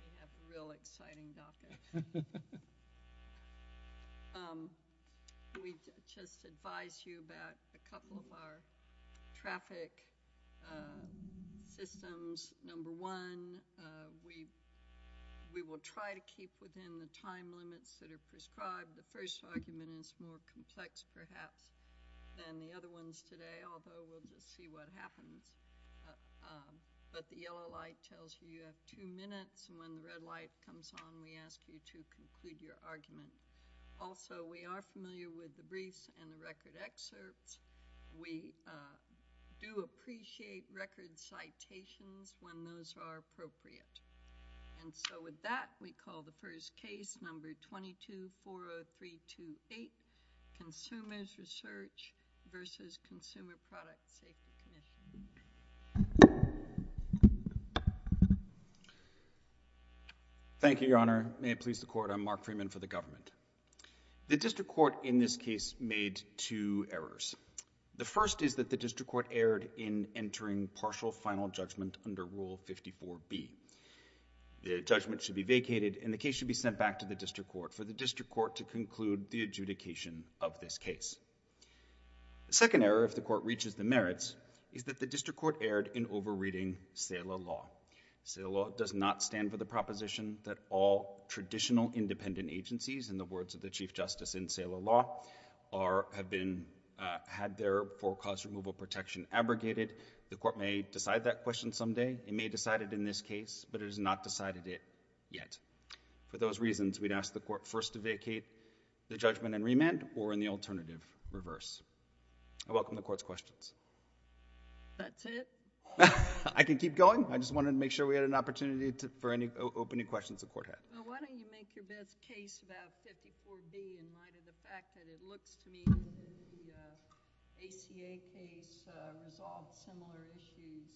We have a real exciting docket. We just advise you about a couple of our traffic systems. Number one, we will try to keep within the time limits that are prescribed. The first argument is more complex, perhaps, than the other ones today, although we'll just see what happens. But the yellow light tells you you have two minutes. When the red light comes on, we ask you to conclude your argument. Also, we are familiar with the briefs and the record excerpts. We do appreciate record citations when those are appropriate. And so with that, we call the first case, number 2240328, Consumers Research v. Consumer Product Safety Commission. Thank you, Your Honor. May it please the Court, I'm Mark Freeman for the government. The district court in this case made two errors. The first is that the district court erred in entering partial final judgment under Rule 54B. The judgment should be vacated and the case should be sent back to the district court for the district court to conclude the adjudication of this case. The second error, if the court reaches the merits, is that the district court erred in over-reading SALA law. SALA law does not stand for the proposition that all traditional independent agencies, in the words of the Chief Justice in SALA law, have had their forecast removal protection abrogated. The court may decide that question someday. It may decide it in this case, but it has not decided it yet. For those reasons, we'd ask the court first to vacate the judgment and remand or in the alternative reverse. I welcome the Court's questions. That's it? I can keep going. I just wanted to make sure we had an opportunity for any opening questions the Court had. Why don't you make your best case about 54B in light of the fact that it looks to me that the ACA case resolved similar issues?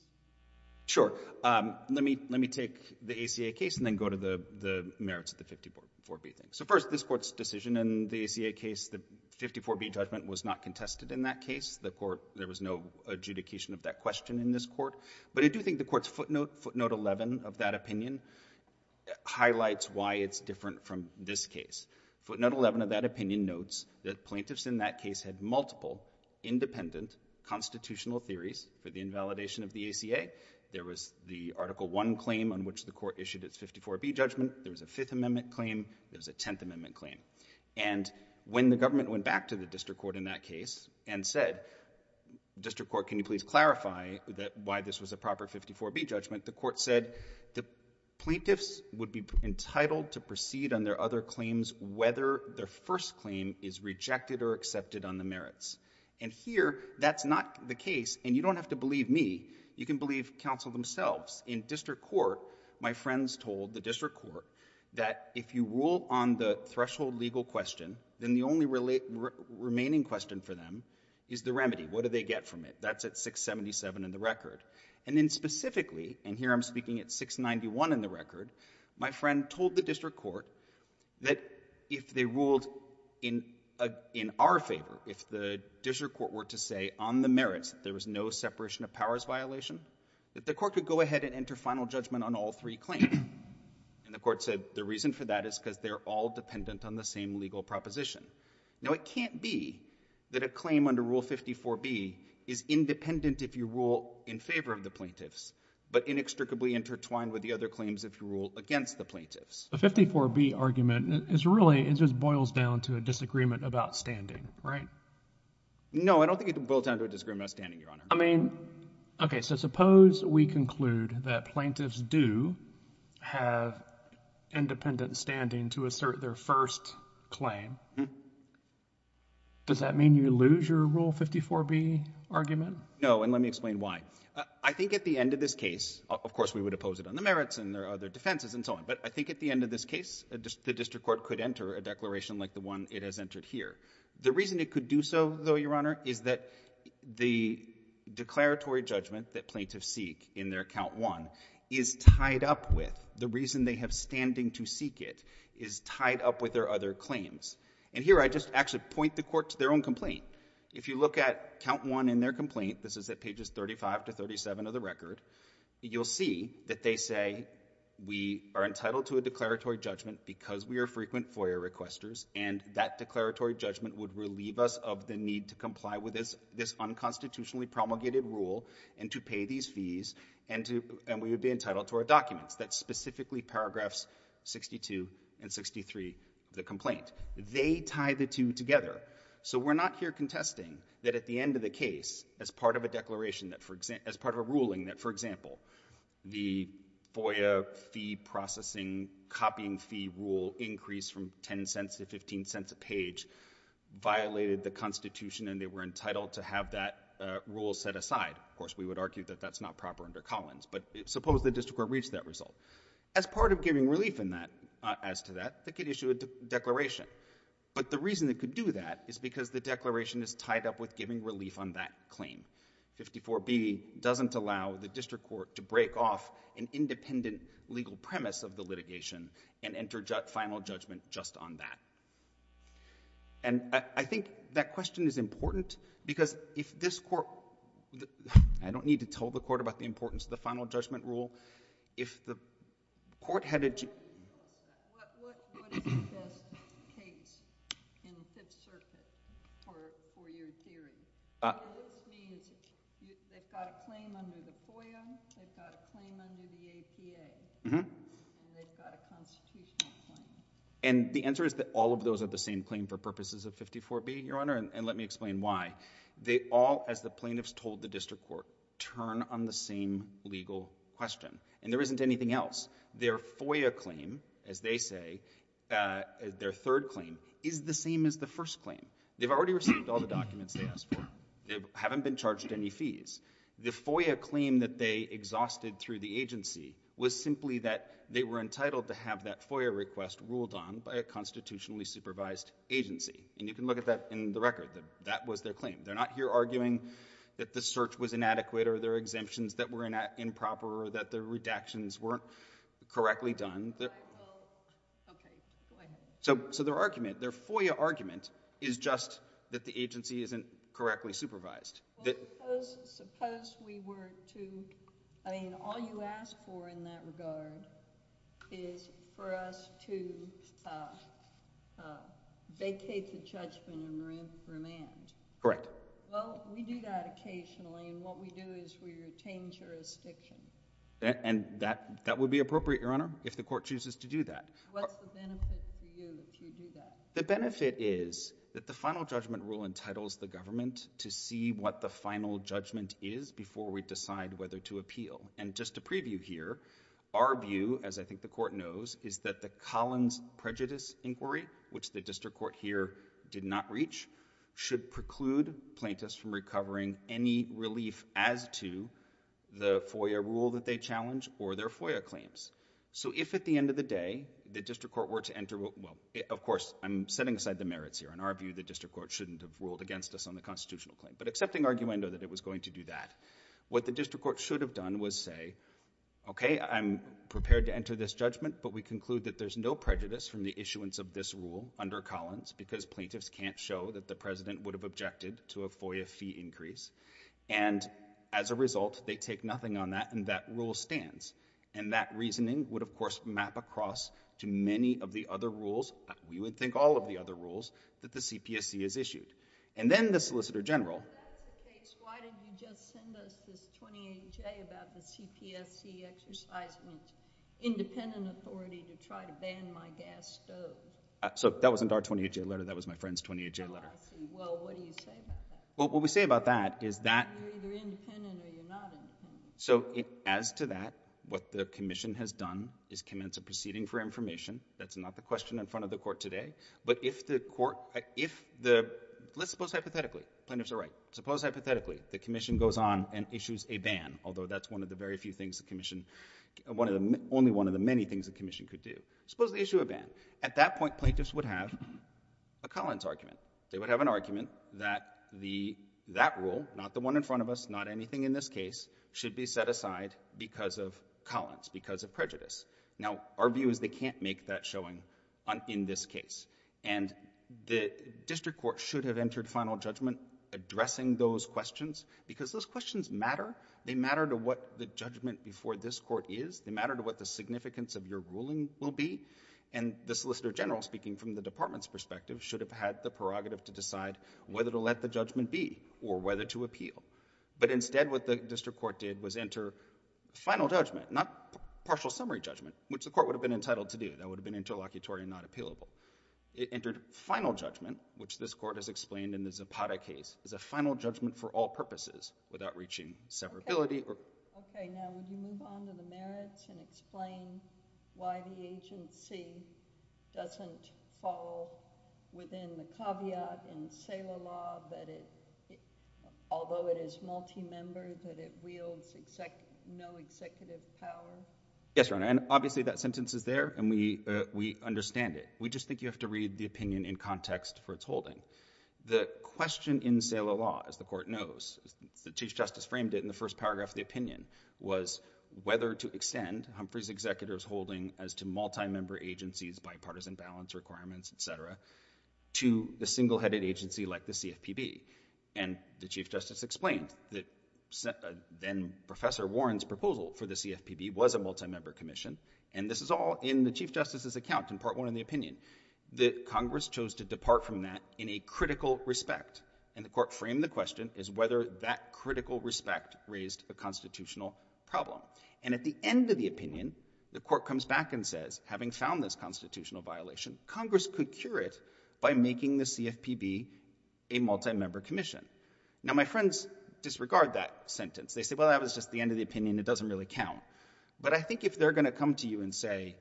Sure. Let me take the ACA case and then go to the merits of the 54B thing. First, this Court's decision in the ACA case, the 54B judgment was not contested in that case. There was no adjudication of that question in this court. But I do think the Court's footnote 11 of that opinion highlights why it's different from this case. Footnote 11 of that opinion notes that plaintiffs in that case had multiple independent constitutional theories for the ACA. There was the Article I claim on which the Court issued its 54B judgment. There was a Fifth Amendment claim. There was a Tenth Amendment claim. And when the government went back to the district court in that case and said, district court, can you please clarify why this was a proper 54B judgment, the court said the plaintiffs would be entitled to proceed on their other claims whether their first claim is rejected or accepted on the merits. And here, that's not the case, and you don't have to believe me. You can believe counsel themselves. In district court, my friends told the district court that if you rule on the threshold legal question, then the only remaining question for them is the remedy. What do they get from it? That's at 677 in the record. And then specifically, and here I'm speaking at 691 in the record, my friend told the district court that if they ruled in our favor, if the district court were to say on the merits that there was no separation of powers violation, that the court could go ahead and enter final judgment on all three claims. And the court said the reason for that is because they're all dependent on the same legal proposition. Now, it can't be that a claim under Rule 54B is independent if you rule in favor of the plaintiffs but inextricably intertwined with the other claims if you rule against the plaintiffs. The 54B argument is really, it just boils down to a disagreement about standing, right? No, I don't think it boils down to a disagreement about standing, Your Honor. I mean, okay, so suppose we conclude that plaintiffs do have independent standing to assert their first claim. Does that mean you lose your Rule 54B argument? No, and let me explain why. I think at the end of this case, of course, we would oppose it on the merits and their other defenses and so on. But I think at the end of this case, the district court could enter a declaration like the one it has entered here. The reason it could do so, though, Your Honor, is that the declaratory judgment that plaintiffs seek in their Count I is tied up with, the reason they have standing to seek it is tied up with their other claims. And here I just actually point the court to their own complaint. If you look at Count I in their complaint, this is at pages 35 to 37 of the record, you'll see that they say we are entitled to a declaratory judgment because we are frequent FOIA requesters, and that declaratory judgment would relieve us of the need to comply with this unconstitutionally promulgated rule and to pay these fees, and we would be entitled to our documents. That's specifically paragraphs 62 and 63 of the complaint. They tie the two together. So we're not here contesting that at the end of the case, as part of a declaration, as part of a ruling that, for example, the FOIA fee processing copying fee rule increase from 10 cents to 15 cents a page violated the Constitution and they were entitled to have that rule set aside. Of course, we would argue that that's not proper under Collins, but suppose the district court reached that result. As part of giving relief in that, as to that, they could issue a declaration. But the reason they could do that is because the declaration is tied up with giving relief on that claim. 54B doesn't allow the district court to break off an independent legal premise of the litigation and enter final judgment just on that. And I think that question is important because if this court, I don't need to tell the court about the importance of the final judgment rule. If the court had a... What is the best case in Fifth Circuit for your theory? This means they've got a claim under the FOIA, they've got a claim under the APA, and they've got a constitutional claim. And the answer is that all of those are the same claim for purposes of 54B, Your Honor, and let me explain why. They all, as the plaintiffs told the district court, turn on the same legal question. And there isn't anything else. Their FOIA claim, as they say, their third claim, is the same as the first claim. They've already received all the documents they asked for. They haven't been charged any fees. The FOIA claim that they exhausted through the agency was simply that they were entitled to have that FOIA request ruled on by a constitutionally supervised agency. And you can look at that in the record. That was their claim. They're not here arguing that the search was inadequate or there are exemptions that were improper or that the redactions weren't correctly done. Okay. Go ahead. So their argument, their FOIA argument, is just that the agency isn't correctly supervised. Well, suppose we were to... I mean, all you ask for in that regard is for us to vacate the judgment and remand. Correct. Well, we do that occasionally. And what we do is we retain jurisdiction. And that would be appropriate, Your Honor, if the court chooses to do that. What's the benefit for you if you do that? The benefit is that the final judgment rule entitles the government to see what the final judgment is before we decide whether to appeal. And just a preview here, our view, as I think the court knows, is that the Collins prejudice inquiry, which the district court here did not reach, should preclude plaintiffs from recovering any relief as to the FOIA rule that they challenge or their FOIA claims. So if, at the end of the day, the district court were to enter... well, of course, I'm setting aside the merits here. In our view, the district court shouldn't have ruled against us on the constitutional claim. But accepting arguendo that it was going to do that, what the district court should have done was say, okay, I'm prepared to enter this judgment, but we conclude that there's no prejudice from the issuance of this rule under Collins, because plaintiffs can't show that the president would have objected to a FOIA fee increase. And as a result, they take nothing on that, and that rule stands. And that reasoning would, of course, map across to many of the other rules—we would think all of the other rules—that the CPSC has issued. And then the Solicitor General... If that's the case, why did you just send us this 28-J about the CPSC exercising independent authority to try to ban my gas stove? So that wasn't our 28-J letter. That was my friend's 28-J letter. Oh, I see. Well, what do you say about that? Well, what we say about that is that... You're either independent or you're not independent. So as to that, what the Commission has done is commence a proceeding for information. That's not the question in front of the Court today. But if the Court... if the... Let's suppose hypothetically—plaintiffs are right—suppose hypothetically the Commission goes on and issues a ban, although that's one of the very few things the Commission... only one of the many things the Commission could do. Suppose they issue a ban. At that point, plaintiffs would have a Collins argument. They would have an argument that that rule—not the one in front of us, not anything in this case—should be set aside because of Collins, because of prejudice. Now, our view is they can't make that showing in this case. And the District Court should have entered final judgment addressing those questions, because those questions matter. They matter to what the judgment before this Court is. They matter to what the significance of your ruling will be. And the Solicitor General, speaking from the Department's perspective, should have had the prerogative to decide whether to let the judgment be or whether to appeal. But instead, what the District Court did was enter final judgment, not partial summary judgment, which the Court would have been entitled to do. That would have been interlocutory and not appealable. It entered final judgment, which this Court has explained in the Zapata case is a final judgment for all purposes without reaching severability or... Yes, Your Honor, and obviously that sentence is there, and we understand it. We just think you have to read the opinion in context for its holding. The question in Salah law, as the Court knows—the Chief Justice framed it in the first paragraph of the opinion—was whether to extend Humphrey's executor's holding as to multi-member agencies, bipartisan balance requirements, et cetera, to the single-headed agency like the CFPB. And the Chief Justice explained that then-Professor Warren's proposal for the CFPB was a multi-member commission, and this is all in the Chief Justice's account in Part 1 of the opinion, that Congress chose to depart from that in a critical respect. And the Court framed the question as whether that critical respect raised a constitutional problem. And at the end of the opinion, the Court comes back and says, having found this constitutional violation, Congress could cure it by making the CFPB a multi-member commission. Now, my friends disregard that sentence. They say, well, that was just the end of the opinion. It doesn't really count. But I think if they're going to come to you and say,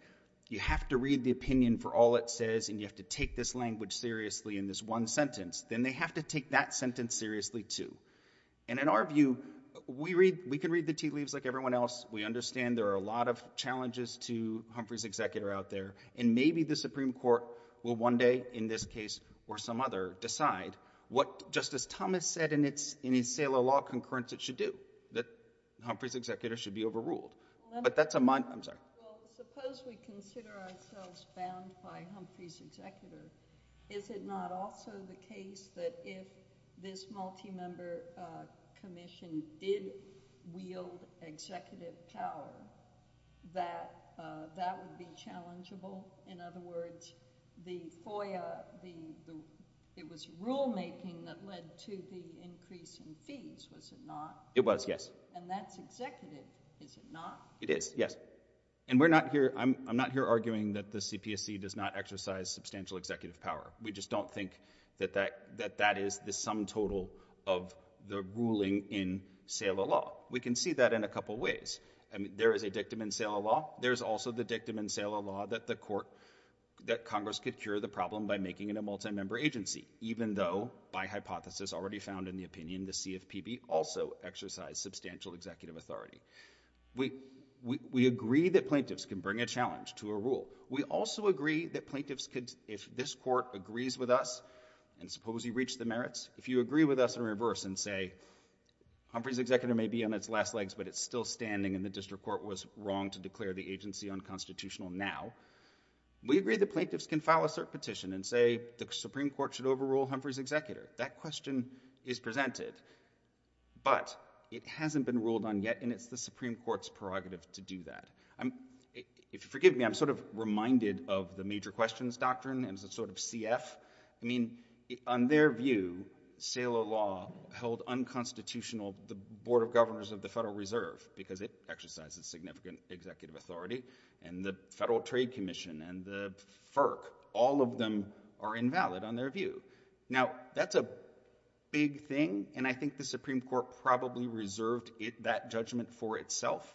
you have to read the opinion for all it says, and you have to take this language seriously in this one sentence, then they have to take that sentence seriously, too. And in our view, we can read the tea leaves like everyone else. We understand there are a lot of challenges to Humphrey's executor out there, and maybe the Supreme Court will one day, in this case or some other, decide what Justice Thomas said in his sale of law concurrence it should do, that Humphrey's executor should be overruled. But that's a mind—I'm sorry. Well, suppose we consider ourselves bound by Humphrey's executor. Is it not also the case that if this multi-member commission did wield executive power, that that would be challengeable? In other words, the FOIA, the—it was rulemaking that led to the increase in fees, was it not? It was, yes. And that's executive, is it not? It is, yes. And we're not here—I'm not here arguing that the CPSC does not exercise substantial executive power. We just don't think that that is the sum total of the ruling in sale of law. We can see that in a couple ways. I mean, there is a dictum in sale of law. There's also the dictum in sale of law that the court—that Congress could cure the problem by making it a multi-member agency, even though, by hypothesis already found in the opinion, the CFPB also exercised substantial executive authority. We agree that plaintiffs can bring a challenge to a rule. We also agree that plaintiffs could—if this court agrees with us, and suppose you reach the merits, if you agree with us in reverse and say, Humphrey's executor may be on its last legs, but it's still standing and the district court was wrong to declare the agency unconstitutional now, we agree that plaintiffs can file a cert petition and say the Supreme Court should overrule Humphrey's executor. That question is presented, but it hasn't been ruled on yet in its prerogative to do that. If you forgive me, I'm sort of reminded of the major questions doctrine as a sort of CF. I mean, on their view, sale of law held unconstitutional the Board of Governors of the Federal Reserve because it exercises significant executive authority, and the Federal Trade Commission, and the FERC, all of them are invalid on their view. Now, that's a big thing, and I think the Supreme Court probably reserved that judgment for itself,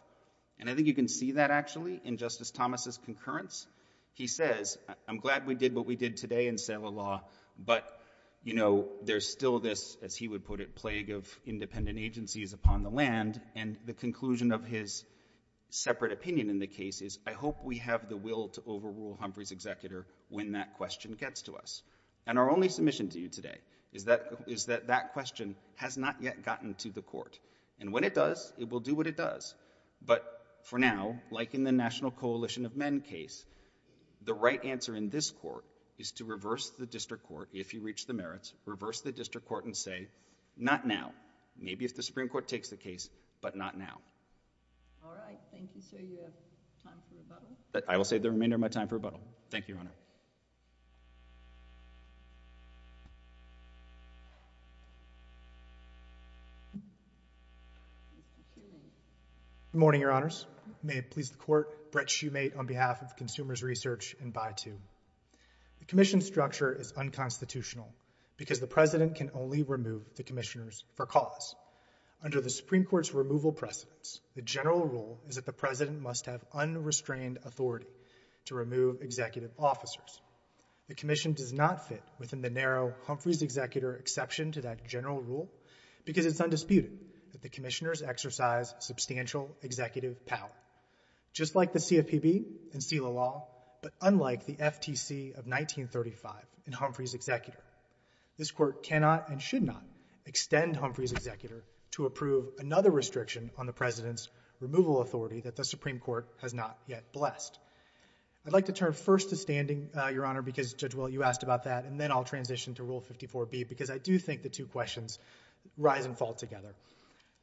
and I think you can see that actually in Justice Thomas's concurrence. He says, I'm glad we did what we did today in sale of law, but, you know, there's still this, as he would put it, plague of independent agencies upon the land, and the conclusion of his separate opinion in the case is, I hope we have the will to overrule Humphrey's executor when that question gets to us. And our only submission to you today is that that question has not yet gotten to the court, and when it does, it will do what it does. But, for now, like in the National Coalition of Men case, the right answer in this court is to reverse the district court, if you reach the merits, reverse the district court and say, not now. Maybe if the Supreme Court takes the case, but not now. All right. Thank you, sir. You have time for rebuttal? Thank you, Your Honor. Thank you, Your Honor. Good morning, Your Honors. May it please the Court, Brett Shumate on behalf of Consumers Research and BITU. The commission structure is unconstitutional because the President can only remove the commissioners for cause. Under the Supreme Court's removal precedence, the general rule is that the President must have unrestrained authority to remove executive officers The commission does not fit within the narrow Humphreys-Executor exception to that general rule because it's undisputed that the commissioners exercise substantial executive power. Just like the CFPB and SELA law, but unlike the FTC of 1935 and Humphreys- Executor, this court cannot and should not extend Humphreys-Executor to approve another restriction on the President's removal authority that the Supreme Court has not yet blessed. I'd like to turn first to standing, Your Honor, because, Judge Will, you asked about that, and then I'll transition to Rule 54B because I do think the two questions rise and fall together.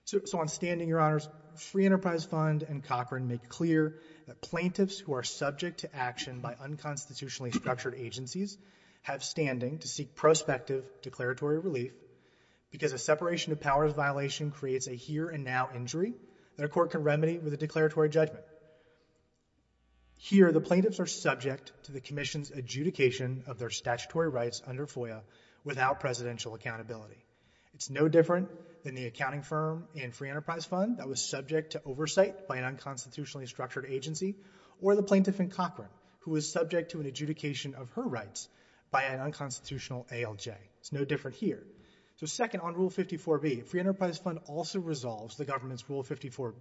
So on standing, Your Honors, Free Enterprise Fund and Cochran make clear that plaintiffs who are subject to action by unconstitutionally structured agencies have standing to seek prospective declaratory relief because a separation of powers violation creates a here and now injury that a court can remedy with a declaratory judgment. Here, the plaintiffs are subject to the commission's adjudication of their statutory rights under FOIA without presidential accountability. It's no different than the accounting firm in Free Enterprise Fund that was subject to oversight by an unconstitutionally structured agency or the plaintiff in Cochran who was subject to an adjudication of her rights by an unconstitutional ALJ. It's no different here. So second, on Rule 54B, Free Enterprise Fund also resolves the government's statutory court,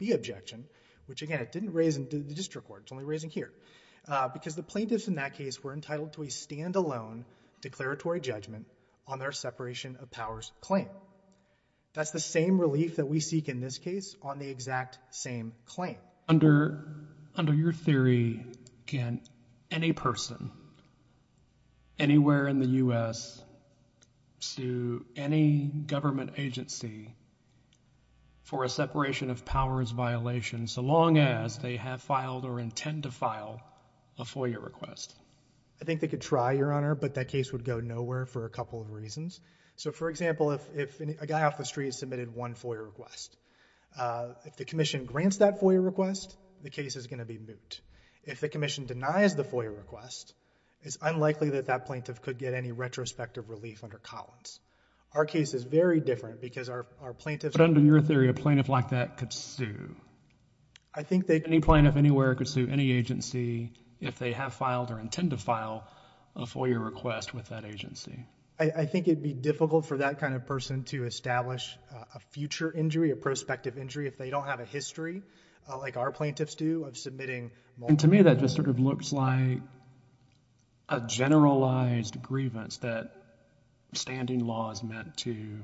it's only raising here, because the plaintiffs in that case were entitled to a standalone declaratory judgment on their separation of powers claim. That's the same relief that we seek in this case on the exact same claim. Under your theory, can any person anywhere in the U.S. sue any government agency for a separation of powers violation so long as they have filed or intend to file a FOIA request? I think they could try, Your Honor, but that case would go nowhere for a couple of reasons. So for example, if a guy off the street submitted one FOIA request, if the commission grants that FOIA request, the case is going to be moot. If the commission denies the FOIA request, it's unlikely that that plaintiff could get any retrospective relief under Collins. Our case is very different because our plaintiffs... But under your theory, a plaintiff like that could sue. I think they... Any plaintiff anywhere could sue any agency if they have filed or intend to file a FOIA request with that agency. I think it would be difficult for that kind of person to establish a future injury, a prospective injury, if they don't have a history like our plaintiffs do of submitting... To me, that just sort of looks like a generalized grievance that standing law is meant to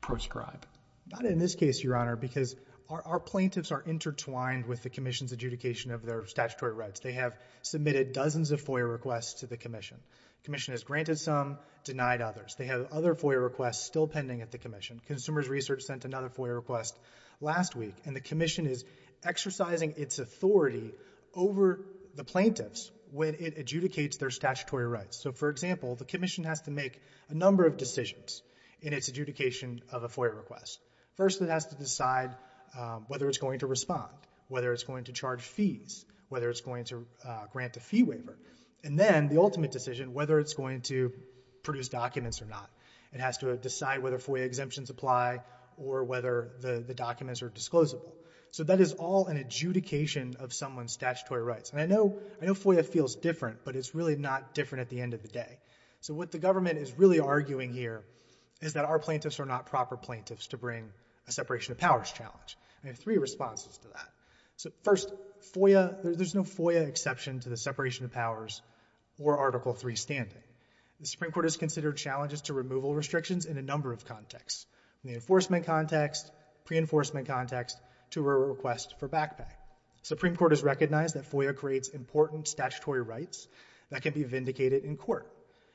proscribe. Not in this case, Your Honor, because our plaintiffs are intertwined with the commission's adjudication of their statutory rights. They have submitted dozens of FOIA requests to the commission. The commission has granted some, denied others. They have other FOIA requests still pending at the commission. The commission is exercising its authority over the plaintiffs when it adjudicates their statutory rights. For example, the commission has to make a number of decisions in its adjudication of a FOIA request. First, it has to decide whether it's going to respond, whether it's going to charge fees, whether it's going to grant a fee waiver. Then, the ultimate decision, whether it's going to produce documents or not. It has to decide whether FOIA exemptions apply or whether the documents are disclosable. That is all an adjudication of someone's statutory rights. I know FOIA feels different, but it's really not different at the end of the day. What the government is really arguing here is that our plaintiffs are not proper plaintiffs to bring a separation of powers challenge. I have three responses to that. First, there's no FOIA exception to the separation of powers or Article III standing. The Supreme Court has considered challenges to removal restrictions in a number of contexts. In the enforcement context, pre-enforcement context, to a request for back pay. The Supreme Court has recognized that FOIA creates important statutory rights that can be vindicated in court.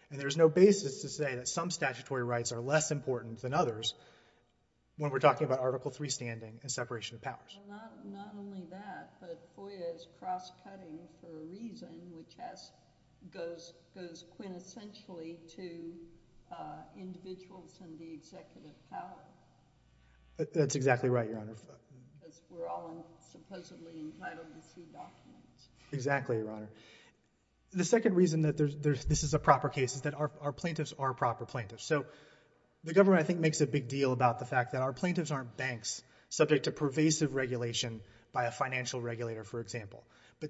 There's no basis to say that some statutory rights are less important than others when we're talking about Article III standing and separation of powers. Not only that, but FOIA is cross-cutting for a reason which goes quintessentially to individuals and the executive power. That's exactly right, Your Honor. We're all supposedly entitled to see documents. Exactly, Your Honor. The second reason that this is a proper case is that our plaintiffs are proper plaintiffs. The government, I think, makes a big deal about the fact that our plaintiffs aren't banks subject to pervasive regulation by a financial regulator, for example.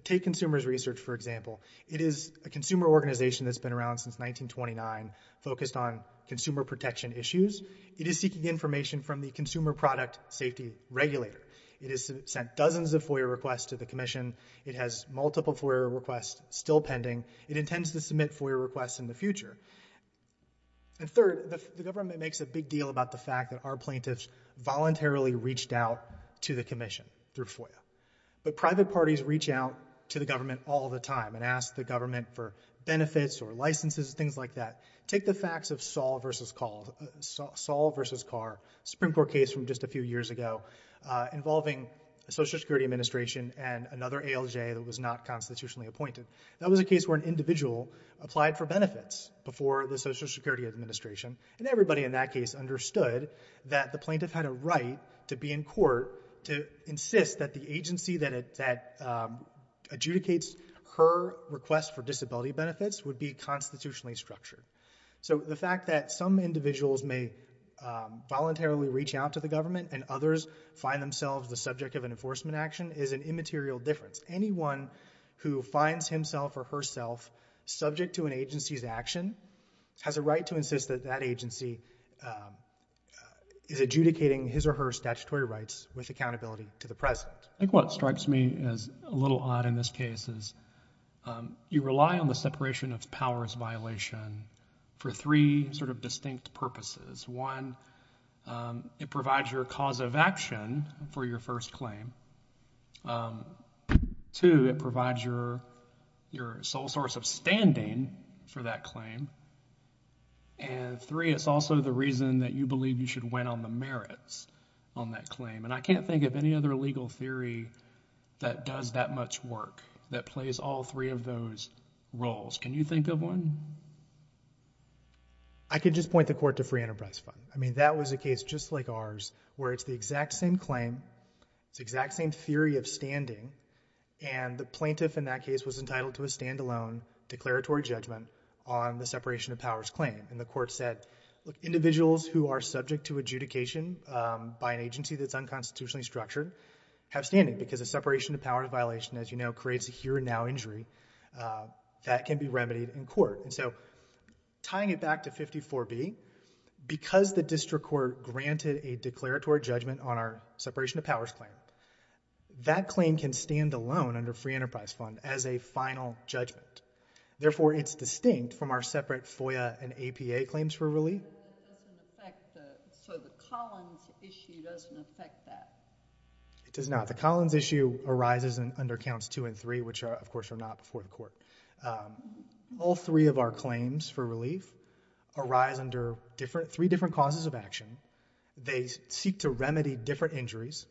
Take consumers research, for example. It is a consumer organization that's been around since 1929, focused on consumer protection issues. It is seeking information from the consumer product safety regulator. It has sent dozens of FOIA requests to the commission. It has multiple FOIA requests still pending. It intends to submit FOIA requests in the future. Third, the government makes a big deal about the fact that our plaintiffs voluntarily reached out to the commission through FOIA. But private parties reach out to the government all the time and ask the government for benefits or licenses, things like that. Take the facts of Saul v. Carr, a Supreme Court case from just a few years ago involving the Social Security Administration and another ALJ that was not constitutionally appointed. That was a case where an individual applied for benefits before the Social Security Administration. And everybody in that case understood that the plaintiff had a right to be in the agency that adjudicates her request for disability benefits would be constitutionally structured. So the fact that some individuals may voluntarily reach out to the government and others find themselves the subject of an enforcement action is an immaterial difference. Anyone who finds himself or herself subject to an agency's action has a right to insist that that agency is adjudicating his or her statutory rights with his or her discretion. I think what strikes me as a little odd in this case is you rely on the separation of powers violation for three sort of distinct purposes. One, it provides your cause of action for your first claim. Two, it provides your sole source of standing for that claim. And three, it's also the reason that you believe you should win on the merits on that claim. And I can't think of any other legal theory that does that much work, that plays all three of those roles. Can you think of one? I can just point the court to Free Enterprise Fund. I mean, that was a case just like ours where it's the exact same claim, it's the exact same theory of standing, and the plaintiff in that case was entitled to a standalone declaratory judgment on the separation of powers claim. And the court said, look, individuals who are subject to adjudication by an institutionally structured have standing because a separation of powers violation, as you know, creates a here and now injury that can be remedied in court. And so tying it back to 54B, because the district court granted a declaratory judgment on our separation of powers claim, that claim can stand alone under Free Enterprise Fund as a final judgment. Therefore, it's distinct from our separate FOIA and APA claims for relief. So the Collins issue doesn't affect that? It does not. The Collins issue arises under counts two and three, which, of course, are not before the court. All three of our claims for relief arise under three different causes of action. They seek to remedy different injuries,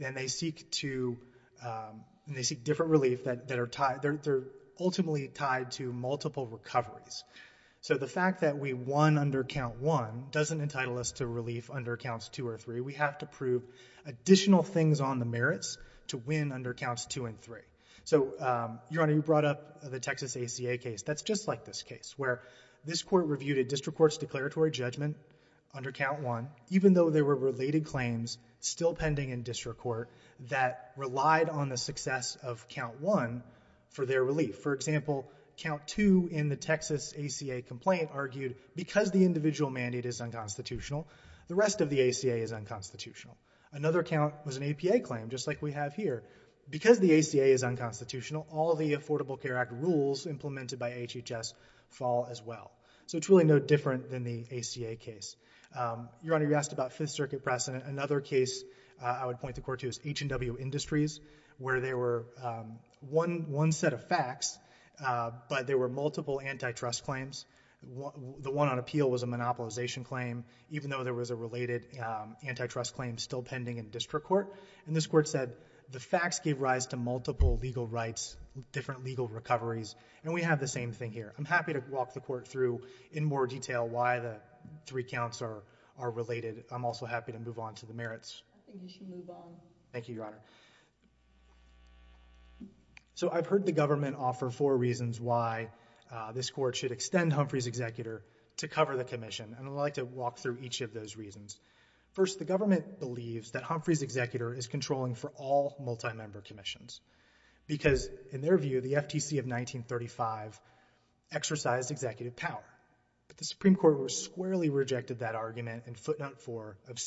and they seek different relief that are ultimately tied to multiple recoveries. So the fact that we won under count one doesn't entitle us to relief under counts two or three. We have to prove additional things on the merits to win under counts two and three. So, Your Honor, you brought up the Texas ACA case. That's just like this case, where this court reviewed a district court's declaratory judgment under count one, even though there were related claims still pending in district court that relied on the success of count one for their relief. For example, count two in the Texas ACA complaint argued, because the individual mandate is unconstitutional, the rest of the ACA is unconstitutional. Another count was an APA claim, just like we have here. Because the ACA is unconstitutional, all the Affordable Care Act rules implemented by HHS fall as well. So it's really no different than the ACA case. Your Honor, you asked about Fifth Circuit precedent. Another case I would point the court to is H&W Industries, where there were one set of facts, but there were multiple antitrust claims. The one on appeal was a monopolization claim, even though there was a related antitrust claim still pending in district court. And this court said, the facts gave rise to multiple legal rights, different legal recoveries. And we have the same thing here. I'm happy to walk the court through in more detail why the three counts are related. I'm also happy to move on to the merits. I think you should move on. Thank you, Your Honor. So I've heard the government offer four reasons why this court should extend Humphrey's executor to cover the commission. And I'd like to walk through each of those reasons. First, the government believes that Humphrey's executor is controlling for all multi-member commissions. Because, in their view, the FTC of 1935 exercised executive power. But the Supreme Court squarely rejected that argument in footnote 4 of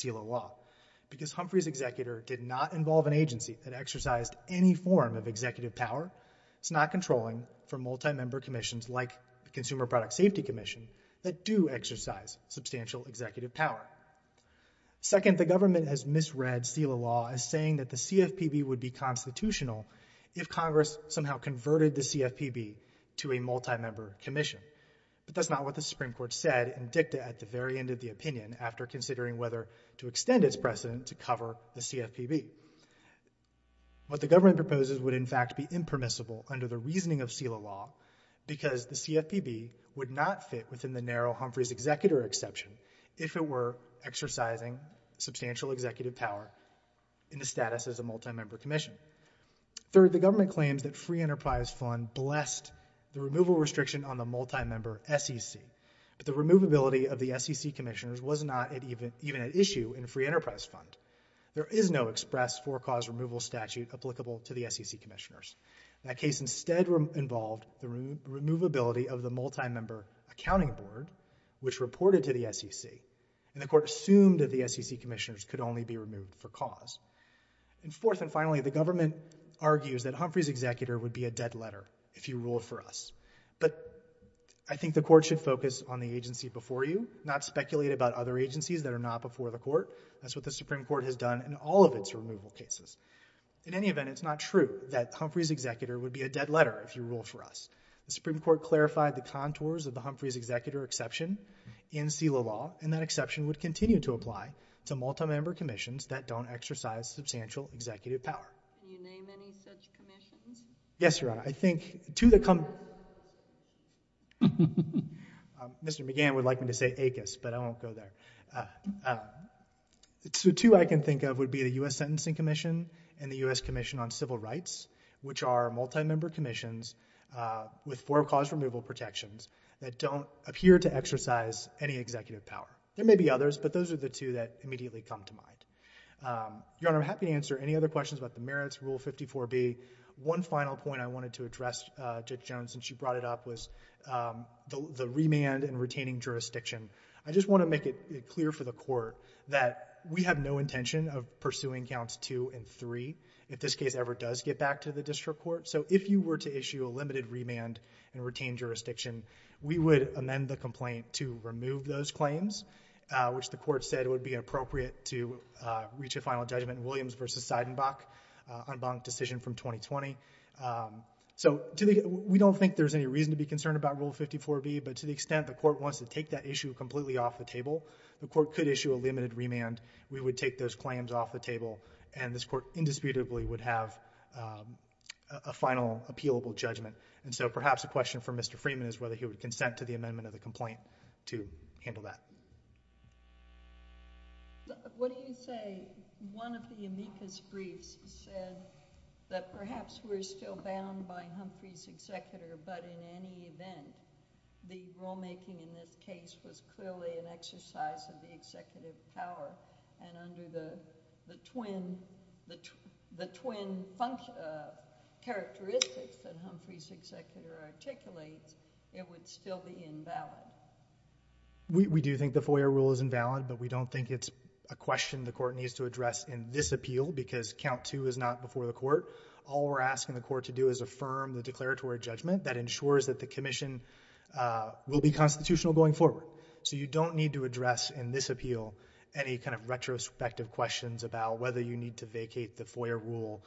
any form of executive power. It's not controlling for multi-member commissions like the Consumer Product Safety Commission that do exercise substantial executive power. Second, the government has misread SELA law as saying that the CFPB would be constitutional if Congress somehow converted the CFPB to a multi-member commission. But that's not what the Supreme Court said in dicta at the very end of the opinion after considering whether to extend its precedent to cover the CFPB. What the government proposes would, in fact, be impermissible under the reasoning of SELA law because the CFPB would not fit within the narrow Humphrey's executor exception if it were exercising substantial executive power in the status as a multi-member commission. Third, the government claims that Free Enterprise Fund blessed the removal restriction on the multi-member SEC. But the removability of the SEC commissioners was not even at issue in Free Enterprise Fund. There is no express for-cause removal statute applicable to the SEC commissioners. That case instead involved the removability of the multi-member accounting board, which reported to the SEC. And the court assumed that the SEC commissioners could only be removed for cause. And fourth and finally, the government argues that Humphrey's executor would be a dead letter if he ruled for us. But I think the court should focus on the agency before you, not speculate about other agencies that are not before the court. That's what the Supreme Court has done in all of its removal cases. In any event, it's not true that Humphrey's executor would be a dead letter if he ruled for us. The Supreme Court clarified the contours of the Humphrey's executor exception in SELA law. And that exception would continue to apply to multi-member commissions that don't exercise substantial executive power. Do you name any such commissions? Yes, Your Honor. I think to the come- Mr. McGann would like me to say ACUS, but I won't go there. The two I can think of would be the U.S. Sentencing Commission and the U.S. Commission on Civil Rights, which are multi-member commissions with for-cause removal protections that don't appear to exercise any executive power. There may be others, but those are the two that immediately come to mind. Your Honor, I'm happy to answer any other questions about the merits, Rule 54B. One final point I wanted to address, Judge Jones, since you brought it up, was the remand and retaining jurisdiction. I just want to make it clear for the Court that we have no intention of pursuing Counts 2 and 3 if this case ever does get back to the district court. So if you were to issue a limited remand and retain jurisdiction, we would amend the complaint to remove those claims, which the Court said would be appropriate to reach a final judgment in Williams v. Seidenbach on Bonk's decision from 2020. So we don't think there's any reason to be concerned about Rule 54B, but to the extent the Court wants to take that issue completely off the table, the Court could issue a limited remand, we would take those claims off the table, and this Court indisputably would have a final appealable judgment. And so perhaps a question for Mr. Freeman is whether he would consent to the amendment of the complaint to handle that. What do you say one of the amicus briefs said that perhaps we're still bound by Humphrey's executor, but in any event, the rulemaking in this case was clearly an exercise of the executive power, and under the twin characteristics that Humphrey's executor articulates, it would still be invalid? We do think the FOIA rule is invalid, but we don't think it's a question the Court needs to address in this appeal because Count 2 is not before the Court. All we're asking the Court to do is affirm the declaratory judgment that ensures that the commission will be constitutional going forward. So you don't need to address in this appeal any kind of retrospective questions about whether you need to vacate the FOIA rule,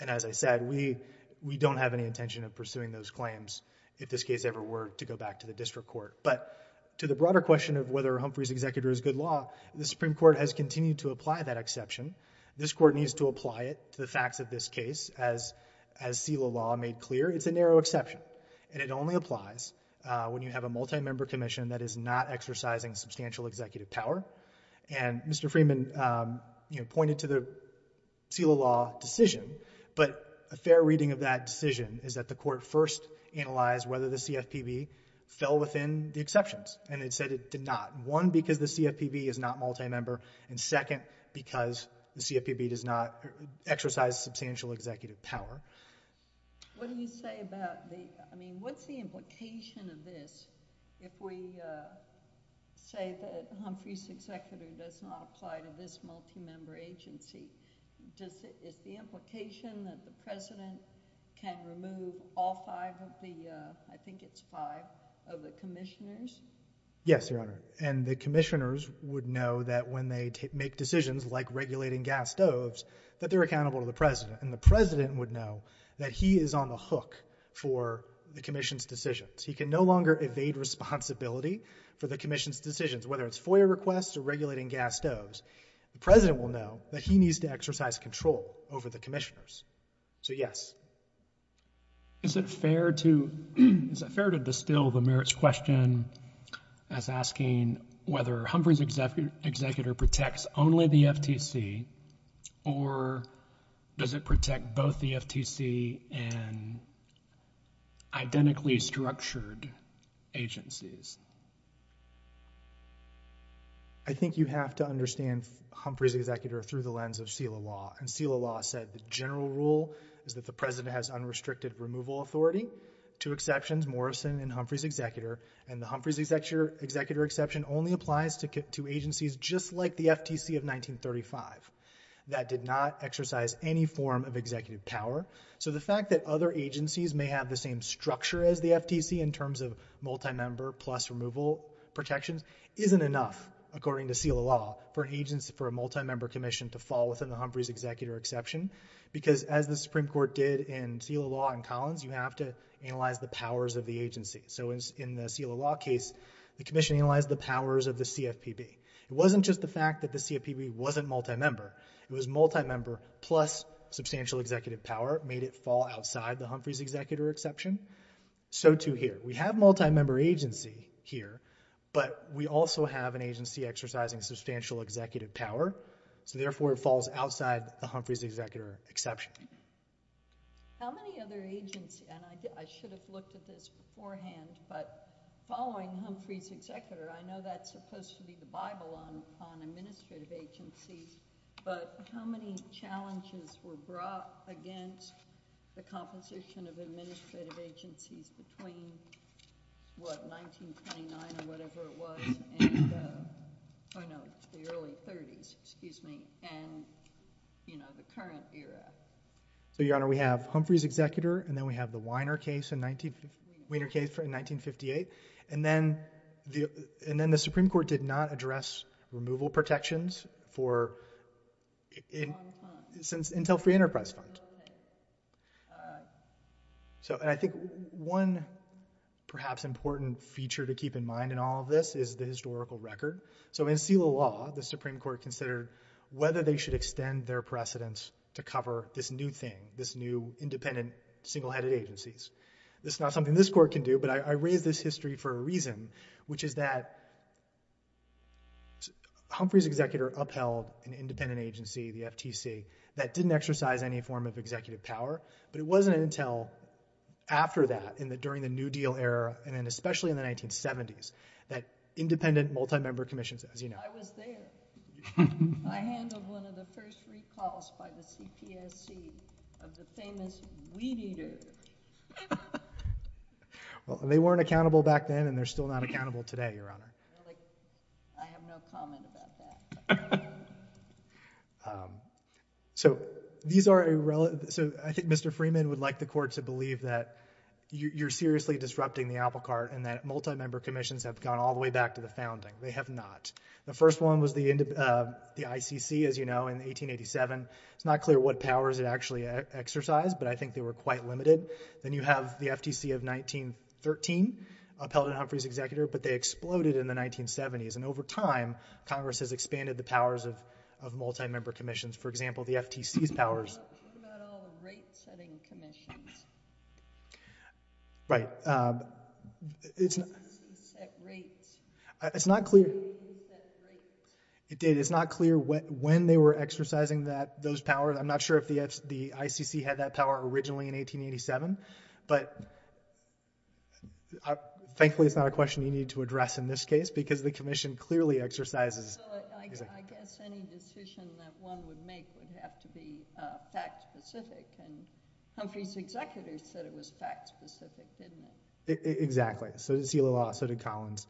and as I said, we don't have any intention of pursuing those claims if this case ever were to go back to the district court. But to the broader question of whether Humphrey's executor is good law, the Supreme Court has continued to apply that exception. This Court needs to apply it to the facts of this case. As SELA law made clear, it's a narrow exception, and it only applies when you have a multi-member commission that is not exercising substantial executive power. And Mr. Freeman pointed to the SELA law decision, but a fair reading of that decision is that the Court first analyzed whether the CFPB fell within the exceptions, and it said it did not, one, because the CFPB is not multi-member, and second, because the CFPB does not exercise substantial executive power. What do you say about the, I mean, what's the implication of this if we say that Humphrey's executor does not apply to this multi-member agency? Is the implication that the President can remove all five of the, I think it's five, of the commissioners? Yes, Your Honor. And the commissioners would know that when they make decisions, like regulating gas stoves, that they're accountable to the President. And the President would know that he is on the hook for the commission's decisions. He can no longer evade responsibility for the commission's decisions, whether it's FOIA requests or regulating gas stoves. The President will know that he needs to exercise control over the commissioners. So, yes. Is it fair to, is it fair to distill the merits question as asking whether Humphrey's executor protects only the FTC, or does it protect both the FTC and identically structured agencies? I think you have to understand Humphrey's executor through the lens of that the President has unrestricted removal authority, two exceptions, Morrison and Humphrey's executor. And the Humphrey's executor exception only applies to agencies just like the FTC of 1935. That did not exercise any form of executive power. So the fact that other agencies may have the same structure as the FTC in terms of multi-member plus removal protections isn't enough, according to SELA law, for an agency, for a multi-member commission to fall within the Humphrey's executor exception. Because as the Supreme Court did in SELA law in Collins, you have to analyze the powers of the agency. So in the SELA law case, the commission analyzed the powers of the CFPB. It wasn't just the fact that the CFPB wasn't multi-member. It was multi-member plus substantial executive power made it fall outside the Humphrey's executor exception. So too here. We have multi-member agency here, but we also have an agency exercising substantial executive power. So therefore, it falls outside the Humphrey's executor exception. How many other agencies, and I should have looked at this beforehand, but following Humphrey's executor, I know that's supposed to be the Bible on administrative agencies, but how many challenges were brought against the composition of administrative agencies between, what, 1929 or whatever it was in the early 30s, excuse me, and the current era? So, Your Honor, we have Humphrey's executor, and then we have the Weiner case in 1958. And then the Supreme Court did not address removal protections for Intel Free Enterprise Fund. So I think one perhaps important feature to keep in mind in all of this is the historical record. So in seal of law, the Supreme Court considered whether they should extend their precedence to cover this new thing, this new independent single-headed agencies. This is not something this court can do, but I raise this history for a reason, which is that Humphrey's executor upheld an independent agency, the FTC, that didn't exercise any form of executive power, but it wasn't Intel after that, and then especially in the 1970s, that independent multi-member commissions, as you know. I was there. I handled one of the first recalls by the CPSC of the famous weed eaters. Well, they weren't accountable back then, and they're still not accountable today, Your Honor. I have no comment about that. So I think Mr. Freeman would like the court to believe that you're seriously disrupting the apple cart, and that multi-member commissions have gone all the way back to the founding. They have not. The first one was the ICC, as you know, in 1887. It's not clear what powers it actually exercised, but I think they were quite limited. Then you have the FTC of 1913, upheld in Humphrey's executor, but they exploded in the 1970s, and over time, Congress has expanded the powers of multi-member commissions. For example, the FTC's powers. What about all the rate-setting commissions? Right. Who set rates? It's not clear. Who set rates? It did. It's not clear when they were exercising those powers. I'm not sure if the ICC had that power originally in 1887, but thankfully, it's not a question you need to address in this case, because the commission clearly exercises... I guess any decision that one would make would have to be fact-specific, and Humphrey's executor said it was fact-specific, didn't it? Exactly. So did Celia Law. So did Collins.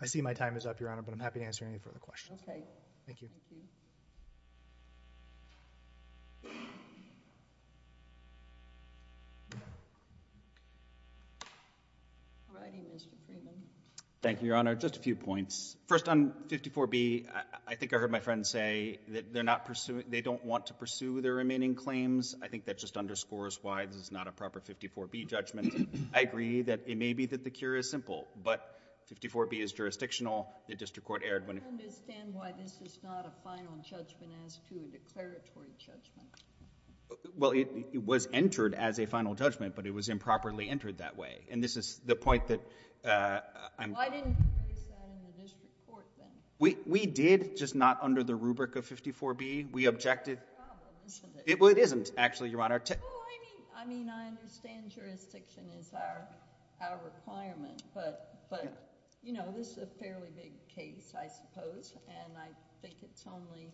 I see my time is up, Your Honor, but I'm happy to answer any further questions. Okay. Thank you. Thank you. All righty, Mr. Freeman. Thank you, Your Honor. Just a few points. First, on 54B, I think I heard my friend say that they're not pursuing... they don't want to pursue their remaining claims. I think that just underscores why this is not a proper 54B judgment. I agree that it may be that the cure is simple, but 54B is jurisdictional. The district court erred when... I don't understand why this is not a final judgment as to a declaratory judgment. Well, it was entered as a final judgment, but it was improperly entered that way, and this is the point that I'm... Why didn't you place that in the district court, then? We did, just not under the rubric of 54B. We objected... Well, it isn't, actually, Your Honor. I mean, I understand jurisdiction is our requirement, but this is a fairly big case, I suppose, and I think it only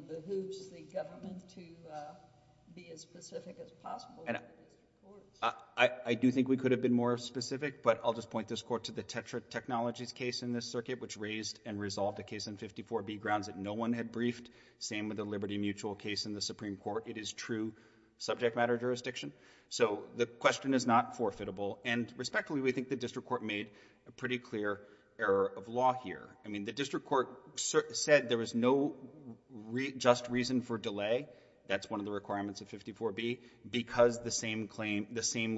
behooves the government to be as specific as possible. I do think we could have been more specific, but I'll just point this court to the Tetra Technologies case in this circuit, which raised and resolved a case in 54B grounds that no one had briefed. Same with the Liberty Mutual case in the Supreme Court. It is true subject matter jurisdiction, so the question is not forfeitable, and respectfully, we think the district court made a pretty clear error of law here. I mean, the district court said there was no just reason for delay. That's one of the requirements of 54B, because the same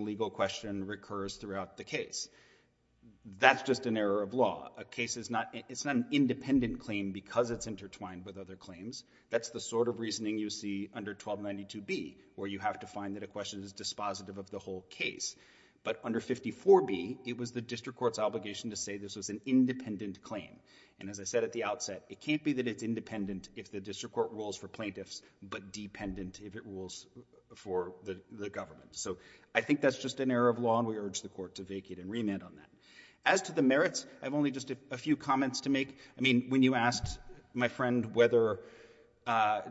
legal question recurs throughout the case. That's just an error of law. A case is not... it's not an independent claim because it's intertwined with other claims. That's the sort of reasoning you see under 1292B, where you have to find that a question is dispositive of the whole case. But under 54B, it was the district court's obligation to say this was an independent claim, and as I said at the outset, it can't be that it's independent if the district court rules for plaintiffs, but dependent if it rules for the government. So I think that's just an error of law, and we urge the court to vacate and remand on that. As to the merits, I have only just a few comments to make. I mean, when you asked my friend whether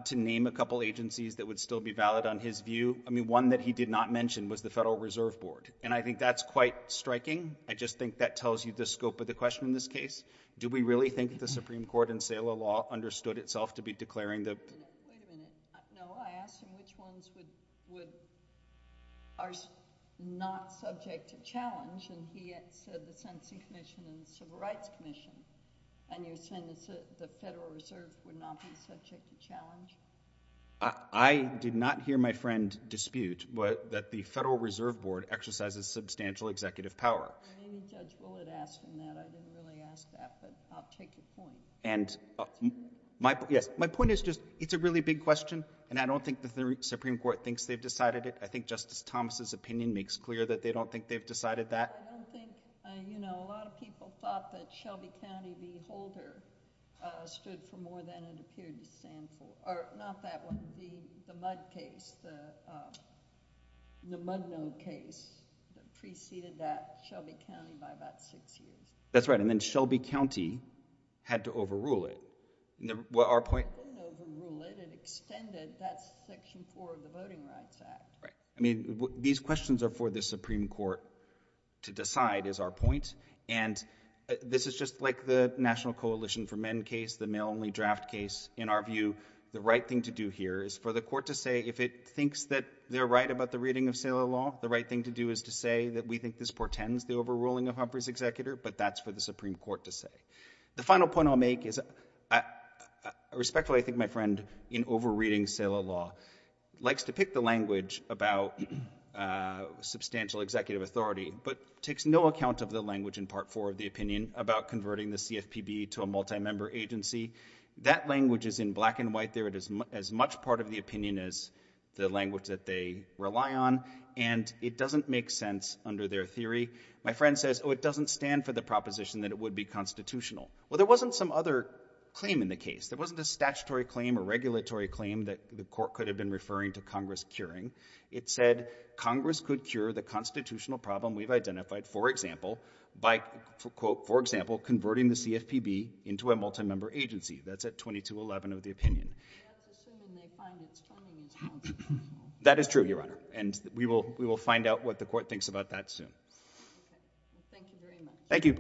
to name a couple agencies that would still be valid on his view, I mean, one that he did not mention was the Federal Reserve Board, and I think that's quite striking. I just think that tells you the scope of the question in this case. Do we really think that the Supreme Court in SALA law understood itself to be declaring the... are not subject to challenge? And he said the Sentencing Commission and the Civil Rights Commission. And you're saying the Federal Reserve would not be subject to challenge? I did not hear my friend dispute that the Federal Reserve Board exercises substantial executive power. I mean, Judge Bullitt asked him that. I didn't really ask that, but I'll take your point. And my point is just it's a really big question, and I don't think the Supreme Court thinks they've decided it. I think Justice Thomas's opinion makes clear that they don't think they've decided that. I don't think... you know, a lot of people thought that Shelby County v. Holder stood for more than it appeared to stand for. Or, not that one, the Mudd case, the Muddnode case, that preceded that Shelby County by about six years. That's right, and then Shelby County had to overrule it. Our point... But that's Section 4 of the Voting Rights Act. Right. I mean, these questions are for the Supreme Court to decide, is our point. And this is just like the National Coalition for Men case, the male-only draft case. In our view, the right thing to do here is for the court to say if it thinks that they're right about the reading of sale of law, the right thing to do is to say that we think this portends the overruling of Humphrey's executor. But that's for the Supreme Court to say. The final point I'll make is, respectfully, I think my friend, in over-reading sale of law, likes to pick the language about substantial executive authority, but takes no account of the language in Part 4 of the opinion about converting the CFPB to a multi-member agency. That language is in black and white there. It is as much part of the opinion as the language that they rely on, and it doesn't make sense under their theory. My friend says, oh, it doesn't stand for the proposition that it would be constitutional. Well, there wasn't some other claim in the case. There wasn't a statutory claim or regulatory claim that the court could have been referring to Congress curing. It said Congress could cure the constitutional problem we've identified, for example, by, for quote, for example, converting the CFPB into a multi-member agency. That's at 2211 of the opinion. But that's assuming they find it's turning into multi-member. That is true, Your Honor. And we will find out what the court thinks about that soon. Okay. Well, thank you very much. Thank you. Thank you.